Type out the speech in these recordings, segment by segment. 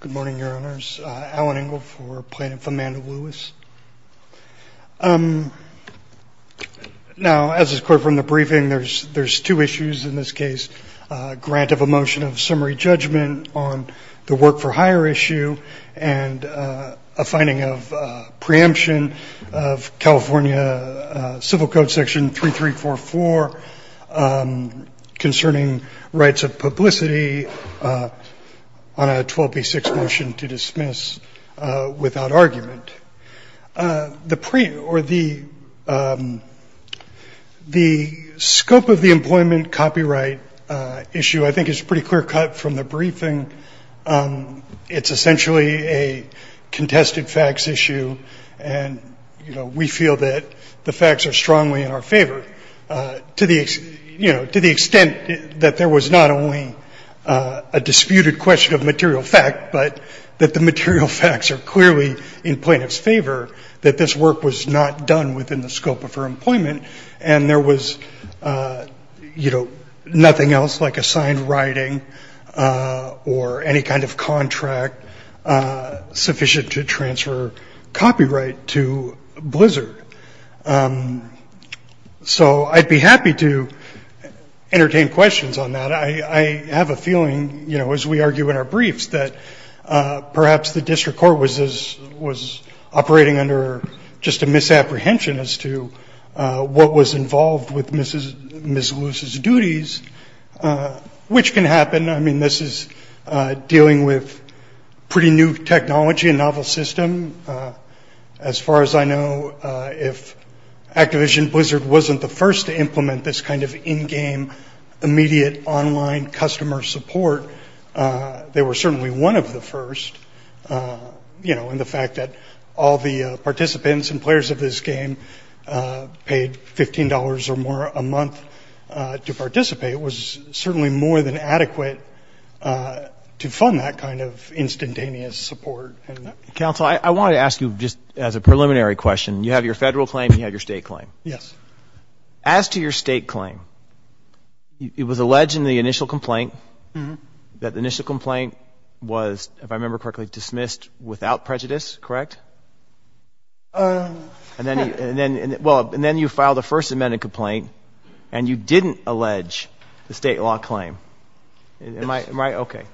Good morning, Your Honors. Alan Engle for Plaintiff Amanda Lewis. Now, as is clear from the briefing, there's two issues in this case. A grant of a motion of summary judgment on the work-for-hire issue and a finding of preemption of California Civil Code Section 3344 concerning rights of publicity on a 12b6 motion to dismiss without argument. The scope of the employment copyright issue I think is pretty clear-cut from the briefing. It's essentially a contested facts issue, and we feel that the facts are strongly in our favor. To the extent that there was not only a disputed question of material fact, but that the material facts are clearly in plaintiff's favor, that this work was not done within the scope of her employment, and there was nothing else like assigned writing or any kind of contract sufficient to transfer copyright to Blizzard. So I'd be happy to entertain questions on that. I have a feeling, you know, as we argue in our briefs, that perhaps the district court was operating under just a misapprehension as to what was involved with Ms. Lewis's duties, which can happen. I mean, this is dealing with pretty new technology, a novel system. As far as I know, if Activision Blizzard wasn't the first to implement this kind of in-game, immediate online customer support, they were certainly one of the first. You know, and the fact that all the participants and players of this game paid $15 or more a month to participate was certainly more than adequate to fund that kind of instantaneous support. Counsel, I wanted to ask you just as a preliminary question. You have your federal claim and you have your state claim. Yes. As to your state claim, it was alleged in the initial complaint that the initial complaint was, if I remember correctly, dismissed without prejudice, correct? And then you filed a First Amendment complaint, and you didn't allege the state law claim. Yes. Am I right? Okay.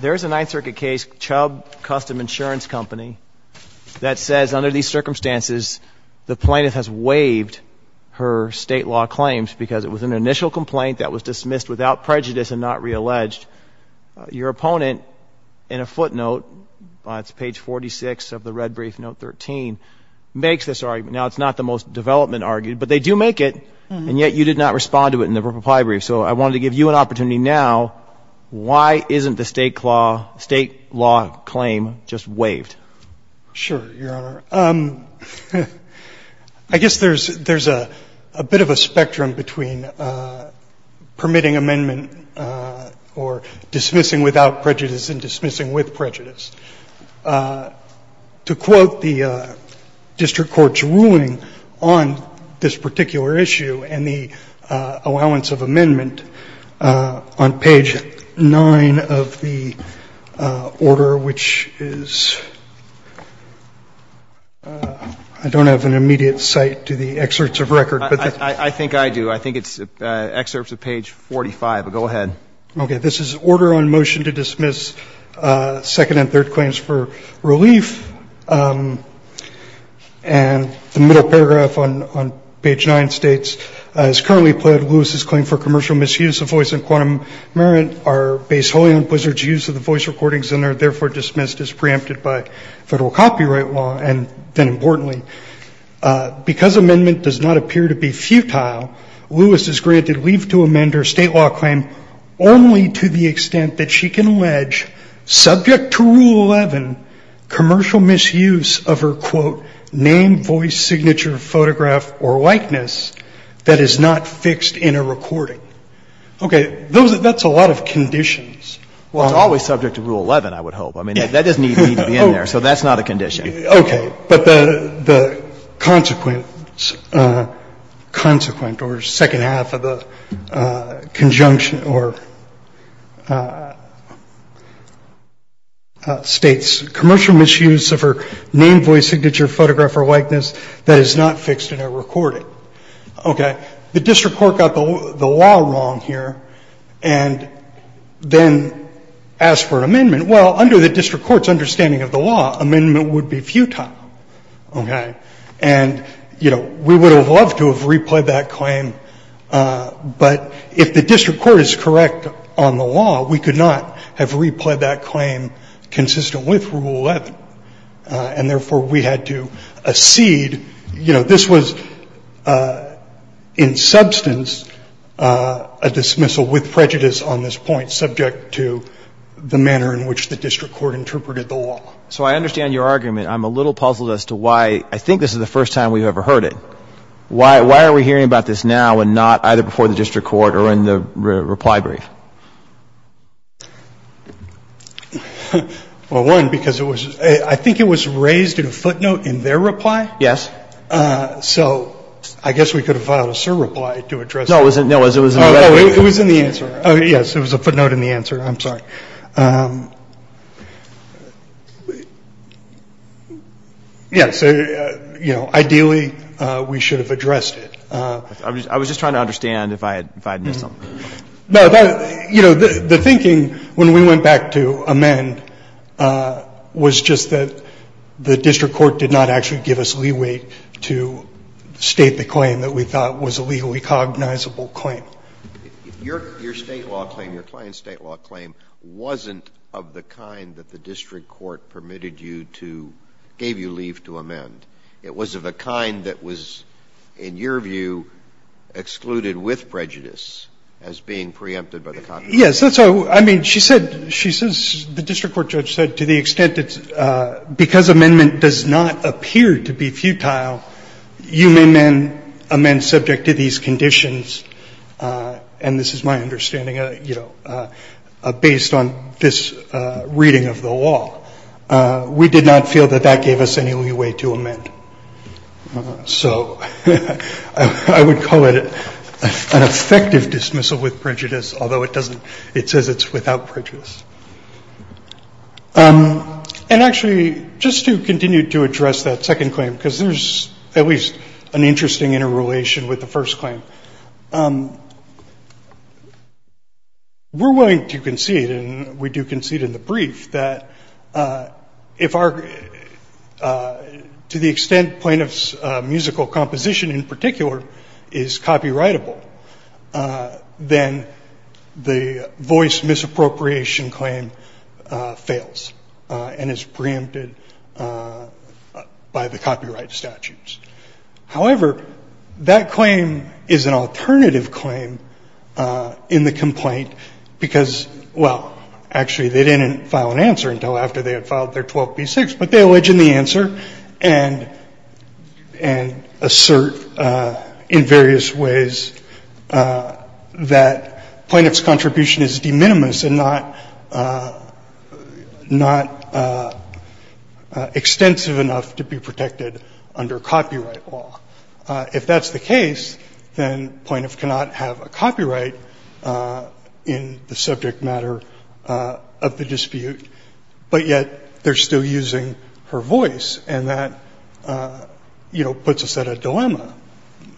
There is a Ninth Circuit case, Chubb Custom Insurance Company, that says under these circumstances the plaintiff has waived her state law claims because it was an initial complaint that was dismissed without prejudice and not realleged. Your opponent, in a footnote, it's page 46 of the red brief, note 13, makes this argument. Now, it's not the most development argument, but they do make it, and yet you did not respond to it in the reply brief. So I wanted to give you an opportunity now. Why isn't the state law claim just waived? Sure, Your Honor. I guess there's a bit of a spectrum between permitting amendment or dismissing without prejudice and dismissing with prejudice. I'm going to use the order of the district court's ruling on this particular issue and the allowance of amendment on page 9 of the order, which is ‑‑ I don't have an immediate cite to the excerpts of record. I think I do. I think it's excerpts of page 45. Go ahead. Okay. This is order on motion to dismiss second and third claims for relief. And the middle paragraph on page 9 states, as currently pled Lewis's claim for commercial misuse of voice and quantum merit are based wholly on Blizzard's use of the voice recordings and are therefore dismissed as preempted by federal copyright law. And then importantly, because amendment does not appear to be futile, Lewis is granted leave to amend her state law claim only to the extent that she can allege, subject to Rule 11, commercial misuse of her, quote, name, voice, signature, photograph, or likeness that is not fixed in a recording. Okay. That's a lot of conditions. Well, it's always subject to Rule 11, I would hope. I mean, that doesn't even need to be in there. So that's not a condition. Okay. But the consequent or second half of the conjunction or states, commercial misuse of her name, voice, signature, photograph, or likeness that is not fixed in a recording. Okay. The district court got the law wrong here and then asked for an amendment. Well, under the district court's understanding of the law, amendment would be futile. Okay. And, you know, we would have loved to have replayed that claim, but if the district court is correct on the law, we could not have replayed that claim consistent with Rule 11. And therefore, we had to accede. You know, this was in substance a dismissal with prejudice on this point, subject to the manner in which the district court interpreted the law. So I understand your argument. I'm a little puzzled as to why. I think this is the first time we've ever heard it. Why are we hearing about this now and not either before the district court or in the reply brief? Well, one, because it was ‑‑ I think it was raised in a footnote in their reply. Yes. So I guess we could have filed a surreply to address that. No. It was in the answer. Oh, yes. It was a footnote in the answer. I'm sorry. Yes. You know, ideally, we should have addressed it. I was just trying to understand if I had missed something. No. You know, the thinking when we went back to amend was just that the district court did not actually give us leeway to state the claim that we thought was a legally cognizable claim. Your state law claim, your client's state law claim, wasn't of the kind that the district court permitted you to ‑‑ gave you leave to amend. It was of the kind that was, in your view, excluded with prejudice as being preempted by the Congress. Yes. That's how ‑‑ I mean, she said ‑‑ she says, the district court judge said, to the extent that because amendment does not appear to be futile, you may amend subject to these conditions, and this is my understanding, you know, based on this reading of the law, we did not feel that that gave us any leeway to amend. So I would call it an effective dismissal with prejudice, although it doesn't ‑‑ it says it's without prejudice. And actually, just to continue to address that second claim, because there's at least an interesting interrelation with the first claim, we're willing to concede, and we do concede in the brief, that if our ‑‑ to the extent plaintiff's musical composition in particular is copyrightable, then the voice misappropriation claim fails and is preempted by the copyright statutes. However, that claim is an alternative claim in the complaint because, well, actually they didn't file an answer until after they had filed their 12B6, but they allege in the answer and ‑‑ and assert in various ways that plaintiff's contribution is de minimis and not ‑‑ not extensive enough to be protected under copyright law. If that's the case, then plaintiff cannot have a copyright in the subject matter of the dispute, but yet they're still using her voice, and that, you know, puts us at a dilemma.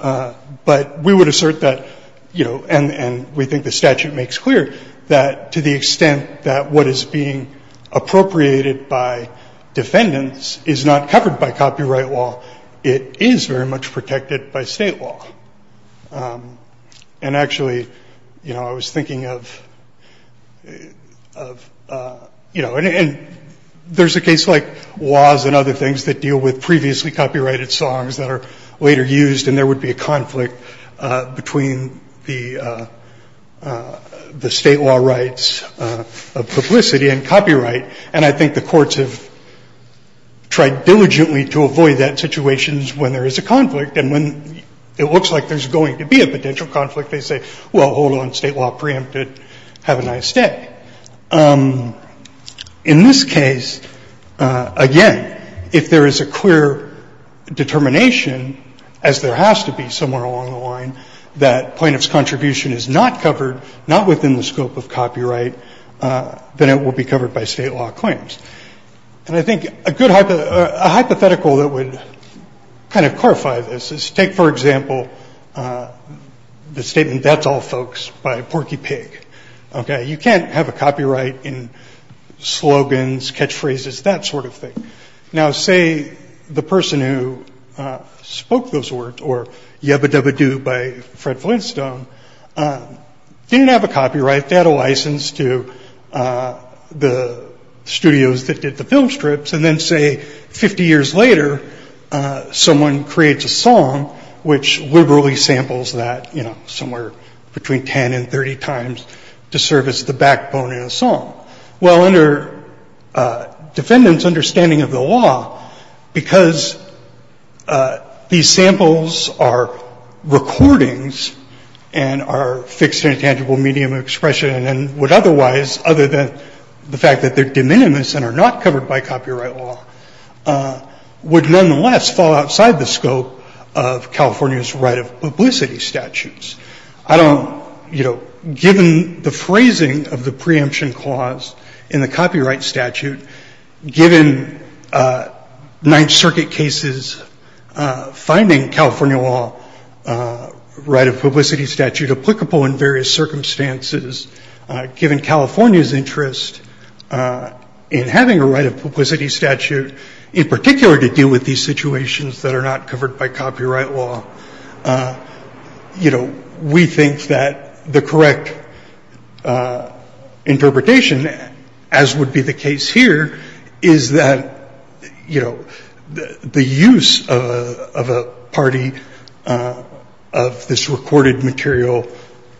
But we would assert that, you know, and ‑‑ and we think the statute makes clear that to the extent that what is being appropriated by defendants is not covered by copyright law, it is very much protected by state law. And actually, you know, I was thinking of ‑‑ of, you know, and there's a case like laws and other things that deal with previously copyrighted songs that are later used, and there would be a conflict between the ‑‑ the state law rights of publicity and copyright, and I think the courts have tried diligently to avoid that situation when there is a conflict, and when it looks like there's going to be a potential conflict, they say, well, hold on, state law preempted, have a nice day. In this case, again, if there is a clear determination, as there has to be somewhere along the line, that plaintiff's contribution is not covered, not within the scope of copyright, then it will be covered by state law claims. And I think a good hypothetical that would kind of clarify this is take, for example, the statement, that's all, folks, by Porky Pig. Okay? You can't have a copyright in slogans, catchphrases, that sort of thing. Now, say the person who spoke those words or Yabba‑Dabba‑Doo by Fred Flintstone didn't have a copyright, they had a license to the studios that did the film strips, and then, say, 50 years later, someone creates a song which liberally samples that, you know, somewhere between 10 and 30 times to serve as the backbone in a song. Well, under defendants' understanding of the and are fixed in a tangible medium of expression and would otherwise, other than the fact that they're de minimis and are not covered by copyright law, would nonetheless fall outside the scope of California's right of publicity statutes. I don't, you know, given the phrasing of the preemption clause in the copyright statute, given Ninth Circuit cases finding California law right of publicity statute applicable in various circumstances, given California's interest in having a right of publicity statute, in particular to deal with these situations that are not covered by copyright law, you know, we think that the correct interpretation, as would be the case here, is that, you know, the use of a party of this recorded material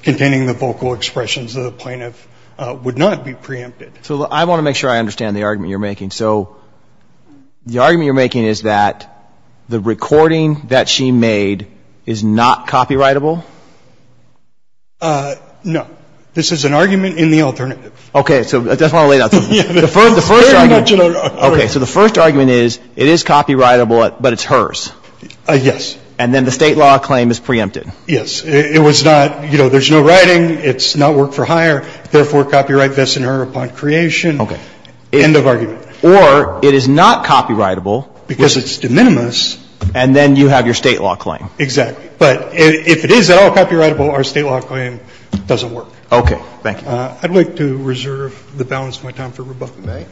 containing the vocal expressions of the plaintiff would not be preempted. So I want to make sure I understand the argument you're making. So the argument you're making is that the recording that she made is not copyrightable? No. This is an argument in the alternative. Okay. So I just want to lay it out to you. The first argument. Okay. So the first argument is it is copyrightable, but it's hers. Yes. And then the State law claim is preempted. Yes. It was not, you know, there's no writing. It's not work-for-hire. Therefore, copyright vests in her upon creation. Okay. End of argument. Or it is not copyrightable. Because it's de minimis. And then you have your State law claim. Okay. Thank you. I'd like to reserve the balance of my time for rebuttal. Okay.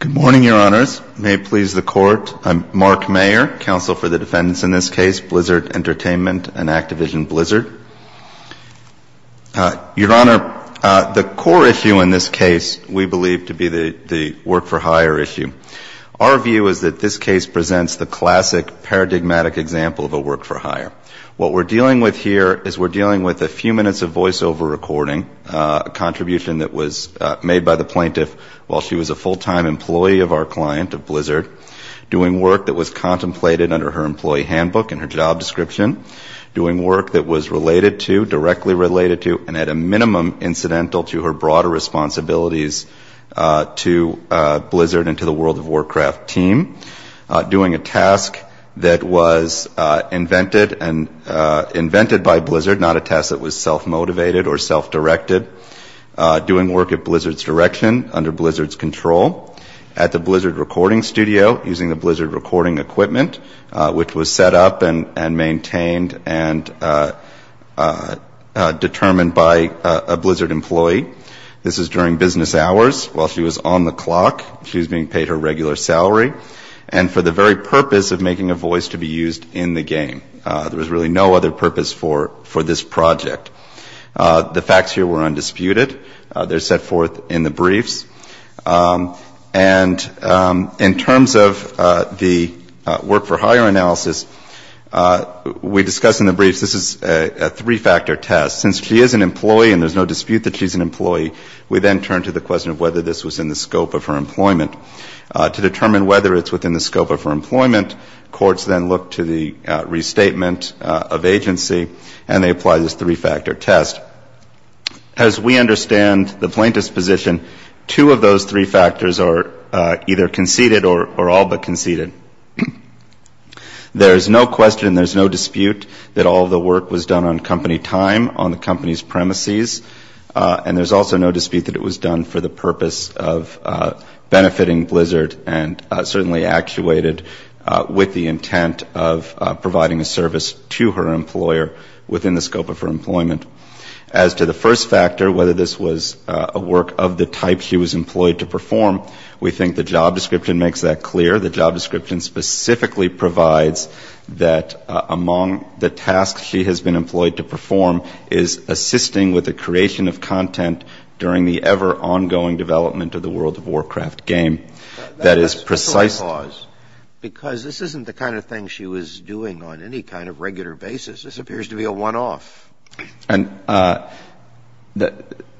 Good morning, Your Honors. May it please the Court. I'm Mark Mayer, counsel for the defendants in this case, Blizzard Entertainment and Activision Blizzard. Your Honor, the core issue in this case we believe to be the work-for-hire issue. Our view is that this case presents the classic paradigmatic example of a work-for-hire. What we're dealing with here is we're dealing with a few minutes of voiceover recording, a contribution that was made by the plaintiff while she was a full-time employee of our client, of Blizzard, doing work that was contemplated under her employee handbook and her job description, doing work that was related to, directly related to, and at a minimum incidental to her broader responsibilities to Blizzard and to the World of Warcraft team, doing a task that was invented by Blizzard, not a task that was self-motivated or self-directed, doing work at Blizzard's direction, under Blizzard's control, at the Blizzard recording studio, using the Blizzard recording equipment, which was set up and maintained and determined by a Blizzard employee. This is during business hours while she was on the clock. She was being paid her regular salary and for the very purpose of making a voice to be used in the game. There was really no other purpose for this project. The facts here were undisputed. They're set forth in the briefs. And in terms of the work-for-hire analysis, we discuss in the briefs this is a three-factor test. Since she is an employee and there's no dispute that she's an employee, we then turn to the question of whether this was in the scope of her employment. To determine whether it's within the scope of her employment, courts then look to the restatement of agency and they apply this three-factor test. As we understand the plaintiff's position, two of those three factors are either conceded or all but conceded. There's no question, there's no dispute that all the work was done on company time, on the company's premises. And there's also no dispute that it was done for the purpose of benefiting Blizzard and certainly actuated with the intent of providing a service to her employer within the scope of her employment. As to the first factor, whether this was a work of the type she was employed to perform, we think the job description makes that clear. The job description specifically provides that among the tasks she has been employed to perform is assisting with the creation of content during the ever-ongoing development of the World of Warcraft game. That is precise. Because this isn't the kind of thing she was doing on any kind of regular basis. This appears to be a one-off. And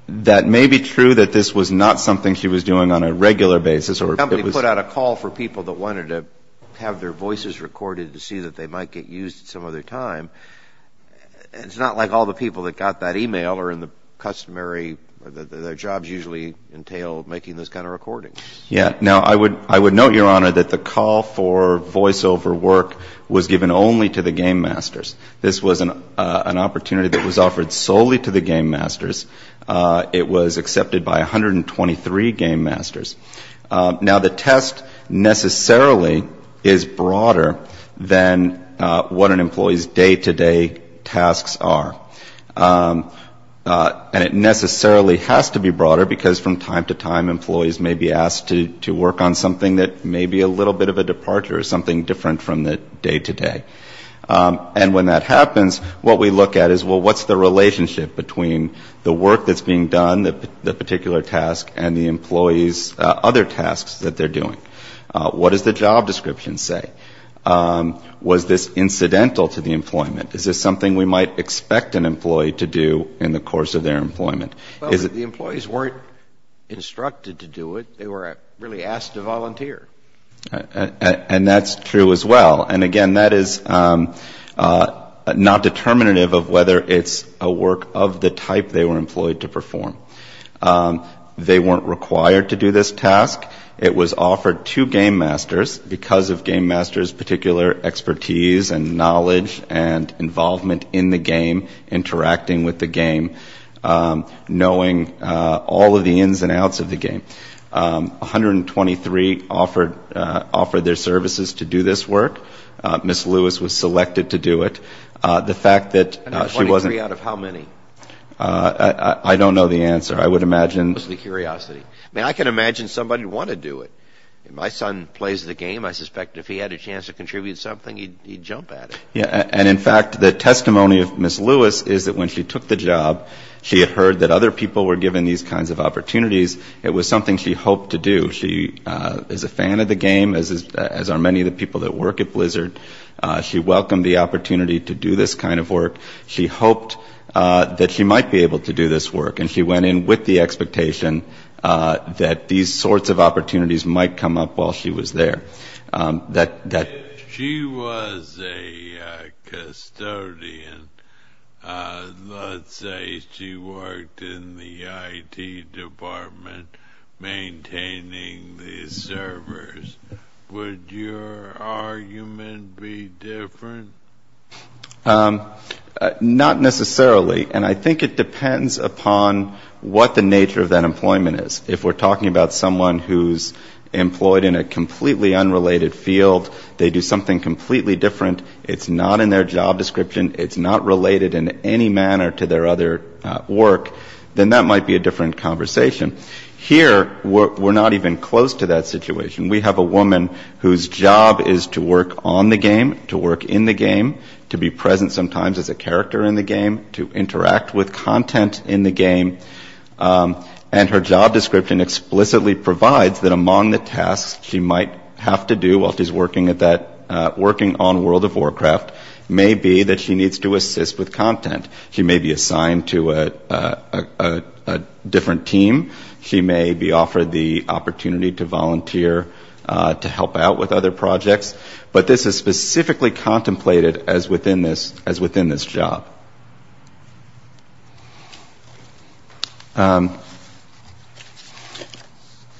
that may be true that this was not something she was doing on a regular basis. Somebody put out a call for people that wanted to have their voices recorded to see that they might get used at some other time. It's not like all the people that got that email are in the customary, their jobs usually entail making those kind of recordings. Yeah. Now, I would note, Your Honor, that the call for voiceover work was given only to the game masters. This was an opportunity that was offered solely to the game masters. It was accepted by 123 game masters. Now, the test necessarily is broader than what an employee's day-to-day tasks are. And it necessarily has to be broader because from time to time, employees may be asked to work on something that may be a little bit of a departure, something different from the day-to-day. And when that happens, what we look at is, well, what's the relationship between the work that's being done, the particular task, and the employee's other tasks that they're doing? What does the job description say? Was this incidental to the employment? Is this something we might expect an employee to do in the course of their employment? Well, the employees weren't instructed to do it. They were really asked to volunteer. And that's true as well. And, again, that is not determinative of whether it's a work of the type they were employed to perform. They weren't required to do this task. It was offered to game masters because of game masters' particular expertise and knowledge and involvement in the game, interacting with the game, knowing all of the ins and outs of the game. 123 offered their services to do this work. Ms. Lewis was selected to do it. The fact that she wasn't- And out of 23, out of how many? I don't know the answer. I would imagine- Just out of curiosity. I mean, I can imagine somebody would want to do it. My son plays the game. I suspect if he had a chance to contribute something, he'd jump at it. And, in fact, the testimony of Ms. Lewis is that when she took the job, she had heard that other people were given these kinds of opportunities. It was something she hoped to do. She is a fan of the game, as are many of the people that work at Blizzard. She welcomed the opportunity to do this kind of work. She hoped that she might be able to do this work. And she went in with the expectation that these sorts of opportunities might come up while she was there. She was a custodian. Let's say she worked in the IT department maintaining the servers. Would your argument be different? Not necessarily. And I think it depends upon what the nature of that employment is. If we're talking about someone who's employed in a completely unrelated field, they do something completely different, it's not in their job description, it's not related in any manner to their other work, then that might be a different conversation. Here, we're not even close to that situation. We have a woman whose job is to work on the game, to work in the game, to be present sometimes as a character in the game, to interact with content in the game. And her job description explicitly provides that among the tasks she might have to do while she's working on World of Warcraft may be that she needs to assist with content. She may be assigned to a different team. She may be offered the opportunity to volunteer to help out with other projects. But this is specifically contemplated as within this job.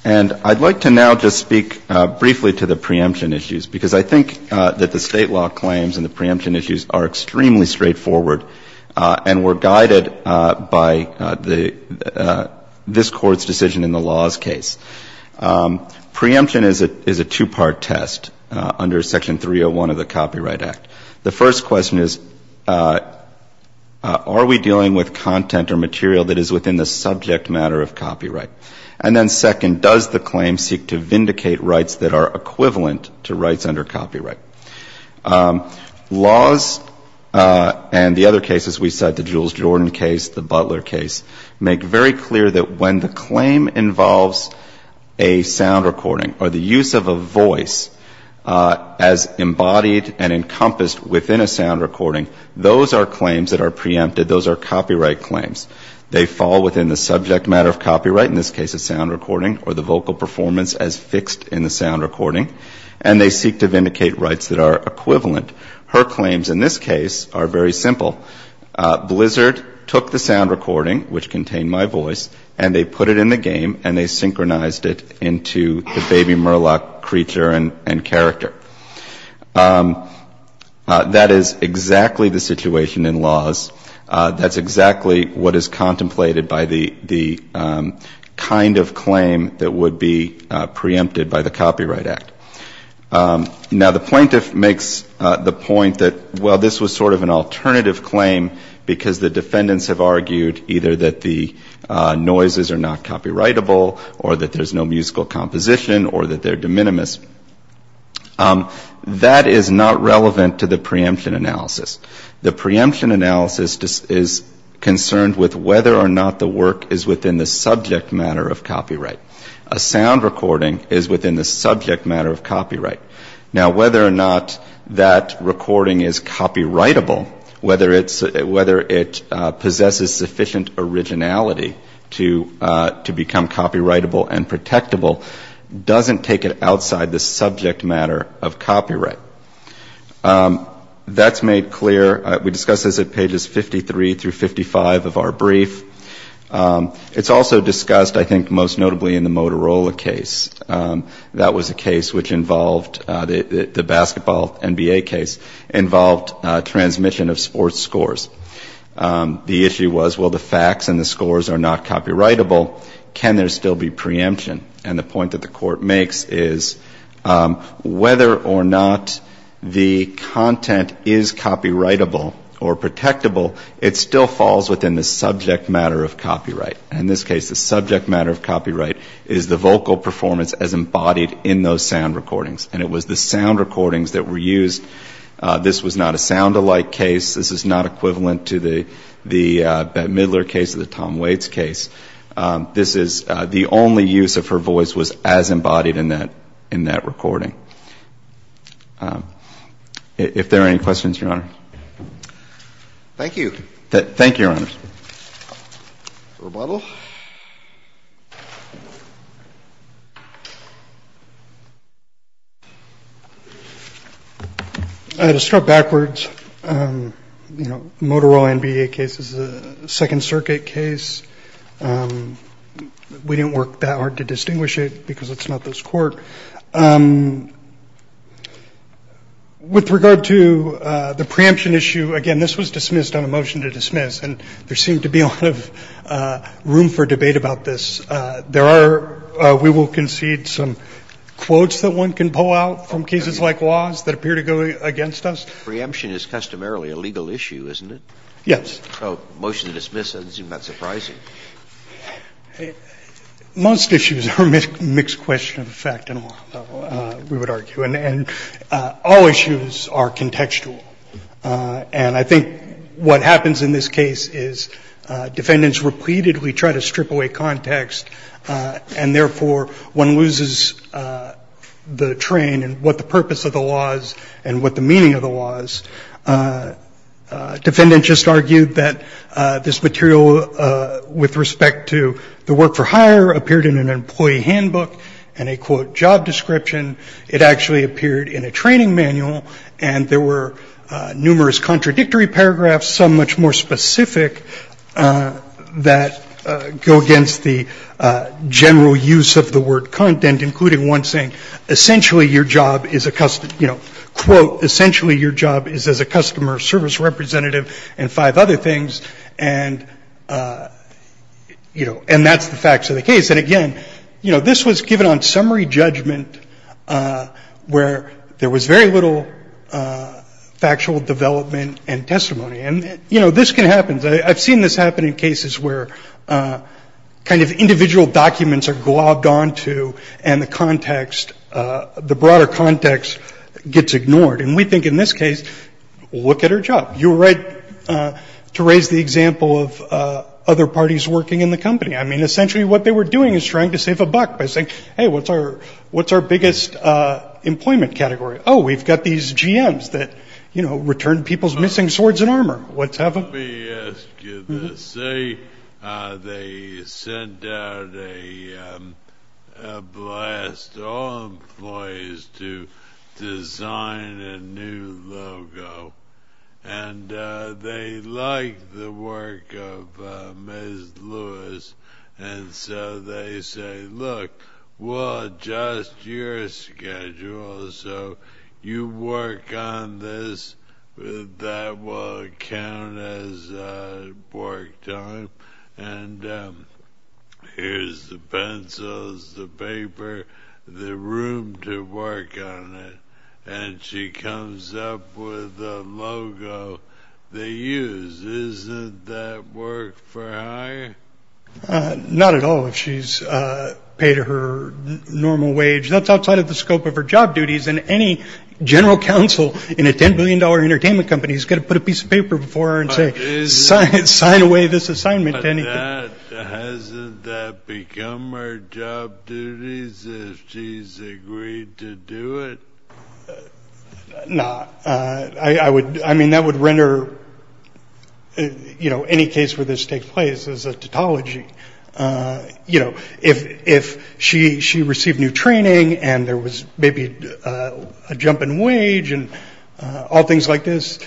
And I'd like to now just speak briefly to the preemption issues, because I think that the State law claims and the preemption issues are extremely straightforward and were guided by this Court's decision in the laws case. Preemption is a two-part test under Section 301 of the Copyright Act. The first question is, are we dealing with content or material that is within the subject matter of copyright? And then second, does the claim seek to vindicate rights that are equivalent to rights under copyright? Laws and the other cases we cite, the Jules Jordan case, the Butler case, make very clear that when the claim involves a sound recording or the use of a voice as embodied and encompassed within a sound recording, those are claims that are preempted. Those are copyright claims. They fall within the subject matter of copyright, in this case a sound recording, or the vocal performance as fixed in the sound recording. And they seek to vindicate rights that are equivalent. Her claims in this case are very simple. Blizzard took the sound recording, which contained my voice, and they put it in the game and they synchronized it into the baby murloc creature and character. That is exactly the situation in laws. That's exactly what is contemplated by the kind of claim that would be preempted by the Copyright Act. Now, the plaintiff makes the point that, well, this was sort of an alternative claim because the defendants have argued either that the noises are not copyrightable or that there's no musical composition or that they're de minimis. That is not relevant to the preemption analysis. The preemption analysis is concerned with whether or not the work is within the subject matter of copyright. A sound recording is within the subject matter of copyright. Now, whether or not that recording is copyrightable, whether it possesses sufficient originality to become copyrightable and protectable, doesn't take it outside the subject matter of copyright. That's made clear. We discuss this at pages 53 through 55 of our brief. It's also discussed, I think, most notably in the Motorola case. That was a case which involved, the basketball NBA case, involved transmission of sports scores. The issue was, well, the facts and the scores are not copyrightable. Can there still be preemption? And the point that the Court makes is whether or not the content is copyrightable or protectable, it still falls within the subject matter of copyright. And in this case, the subject matter of copyright is the vocal performance as embodied in those sound recordings. And it was the sound recordings that were used. This was not a sound-alike case. This is not equivalent to the Bette Midler case or the Tom Waits case. This is the only use of her voice was as embodied in that recording. If there are any questions, Your Honor. Thank you. Thank you, Your Honor. Rebuttal. To start backwards, you know, the Motorola NBA case is a Second Circuit case. We didn't work that hard to distinguish it because it's not this Court. With regard to the preemption issue, again, this was dismissed on a motion to dismiss, and there seemed to be a lot of room for debate about this. There are, we will concede, some quotes that one can pull out from cases like Laws that appear to go against us. Preemption is customarily a legal issue, isn't it? Yes. So a motion to dismiss doesn't seem that surprising. Most issues are a mixed question of fact, we would argue, and all issues are contextual. And I think what happens in this case is defendants repeatedly try to strip away context, and therefore one loses the train in what the purpose of the law is and what the meaning of the law is. Defendant just argued that this material, with respect to the work for hire, appeared in an employee handbook and a, quote, job description. It actually appeared in a training manual, and there were numerous contradictory paragraphs, some much more specific, that go against the general use of the word content, including one saying, quote, essentially your job is as a customer service representative, and five other things, and that's the facts of the case. And again, this was given on summary judgment where there was very little factual development and testimony. And this can happen. I've seen this happen in cases where kind of individual documents are globbed onto, and the context, the broader context gets ignored. And we think in this case, look at her job. You were right to raise the example of other parties working in the company. I mean, essentially what they were doing is trying to save a buck by saying, hey, what's our biggest employment category? Oh, we've got these GMs that, you know, return people's missing swords and armor. Let me ask you this. They sent out a blast to all employees to design a new logo, and they like the work of Ms. Lewis, and so they say, look, we'll adjust your schedule so you work on this. That will count as work done. And here's the pencils, the paper, the room to work on it. And she comes up with a logo they use. Isn't that work for hire? Not at all if she's paid her normal wage. That's outside of the scope of her job duties, and any general counsel in a $10 billion entertainment company has got to put a piece of paper before her and say, sign away this assignment to anything. But hasn't that become her job duties if she's agreed to do it? No. I mean, that would render, you know, any case where this takes place as a tautology. You know, if she received new training and there was maybe a jump in wage and all things like this,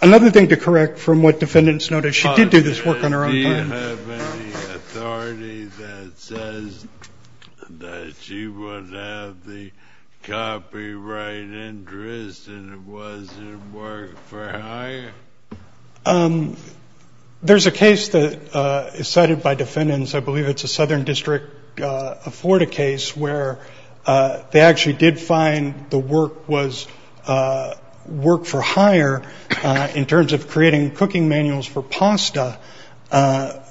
another thing to correct from what defendants noticed, she did do this work on her own time. Do you have any authority that says that she would have the copyright interest and it wasn't work for hire? There's a case that is cited by defendants. I believe it's a Southern District of Florida case where they actually did find the work was work for hire in terms of creating cooking manuals for pasta,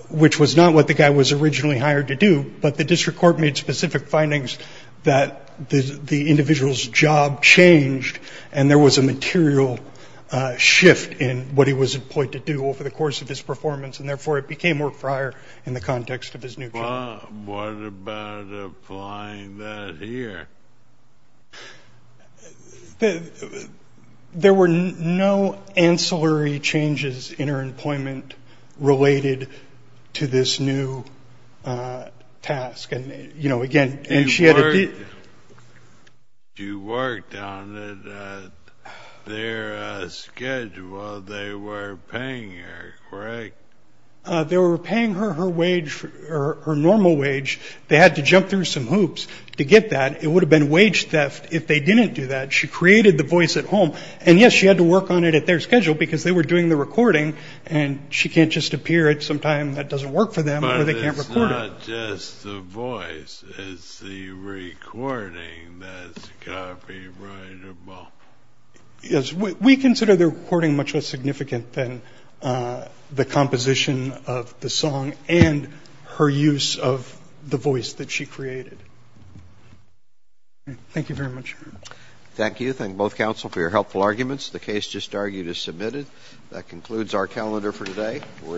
which was not what the guy was originally hired to do. But the district court made specific findings that the individual's job changed and there was a material shift in what he was employed to do over the course of his performance, and therefore it became work for hire in the context of his new job. Well, what about applying that here? There were no ancillary changes in her employment related to this new task. You worked on it at their schedule. They were paying her, correct? They were paying her her wage, her normal wage. They had to jump through some hoops to get that. It would have been wage theft if they didn't do that. She created the voice at home. And, yes, she had to work on it at their schedule because they were doing the recording and she can't just appear at some time that doesn't work for them or they can't record it. It's not just the voice. It's the recording that's copyrightable. Yes. We consider the recording much less significant than the composition of the song and her use of the voice that she created. Thank you very much. Thank you. Thank both counsel for your helpful arguments. The case just argued is submitted. That concludes our calendar for today. We're adjourned.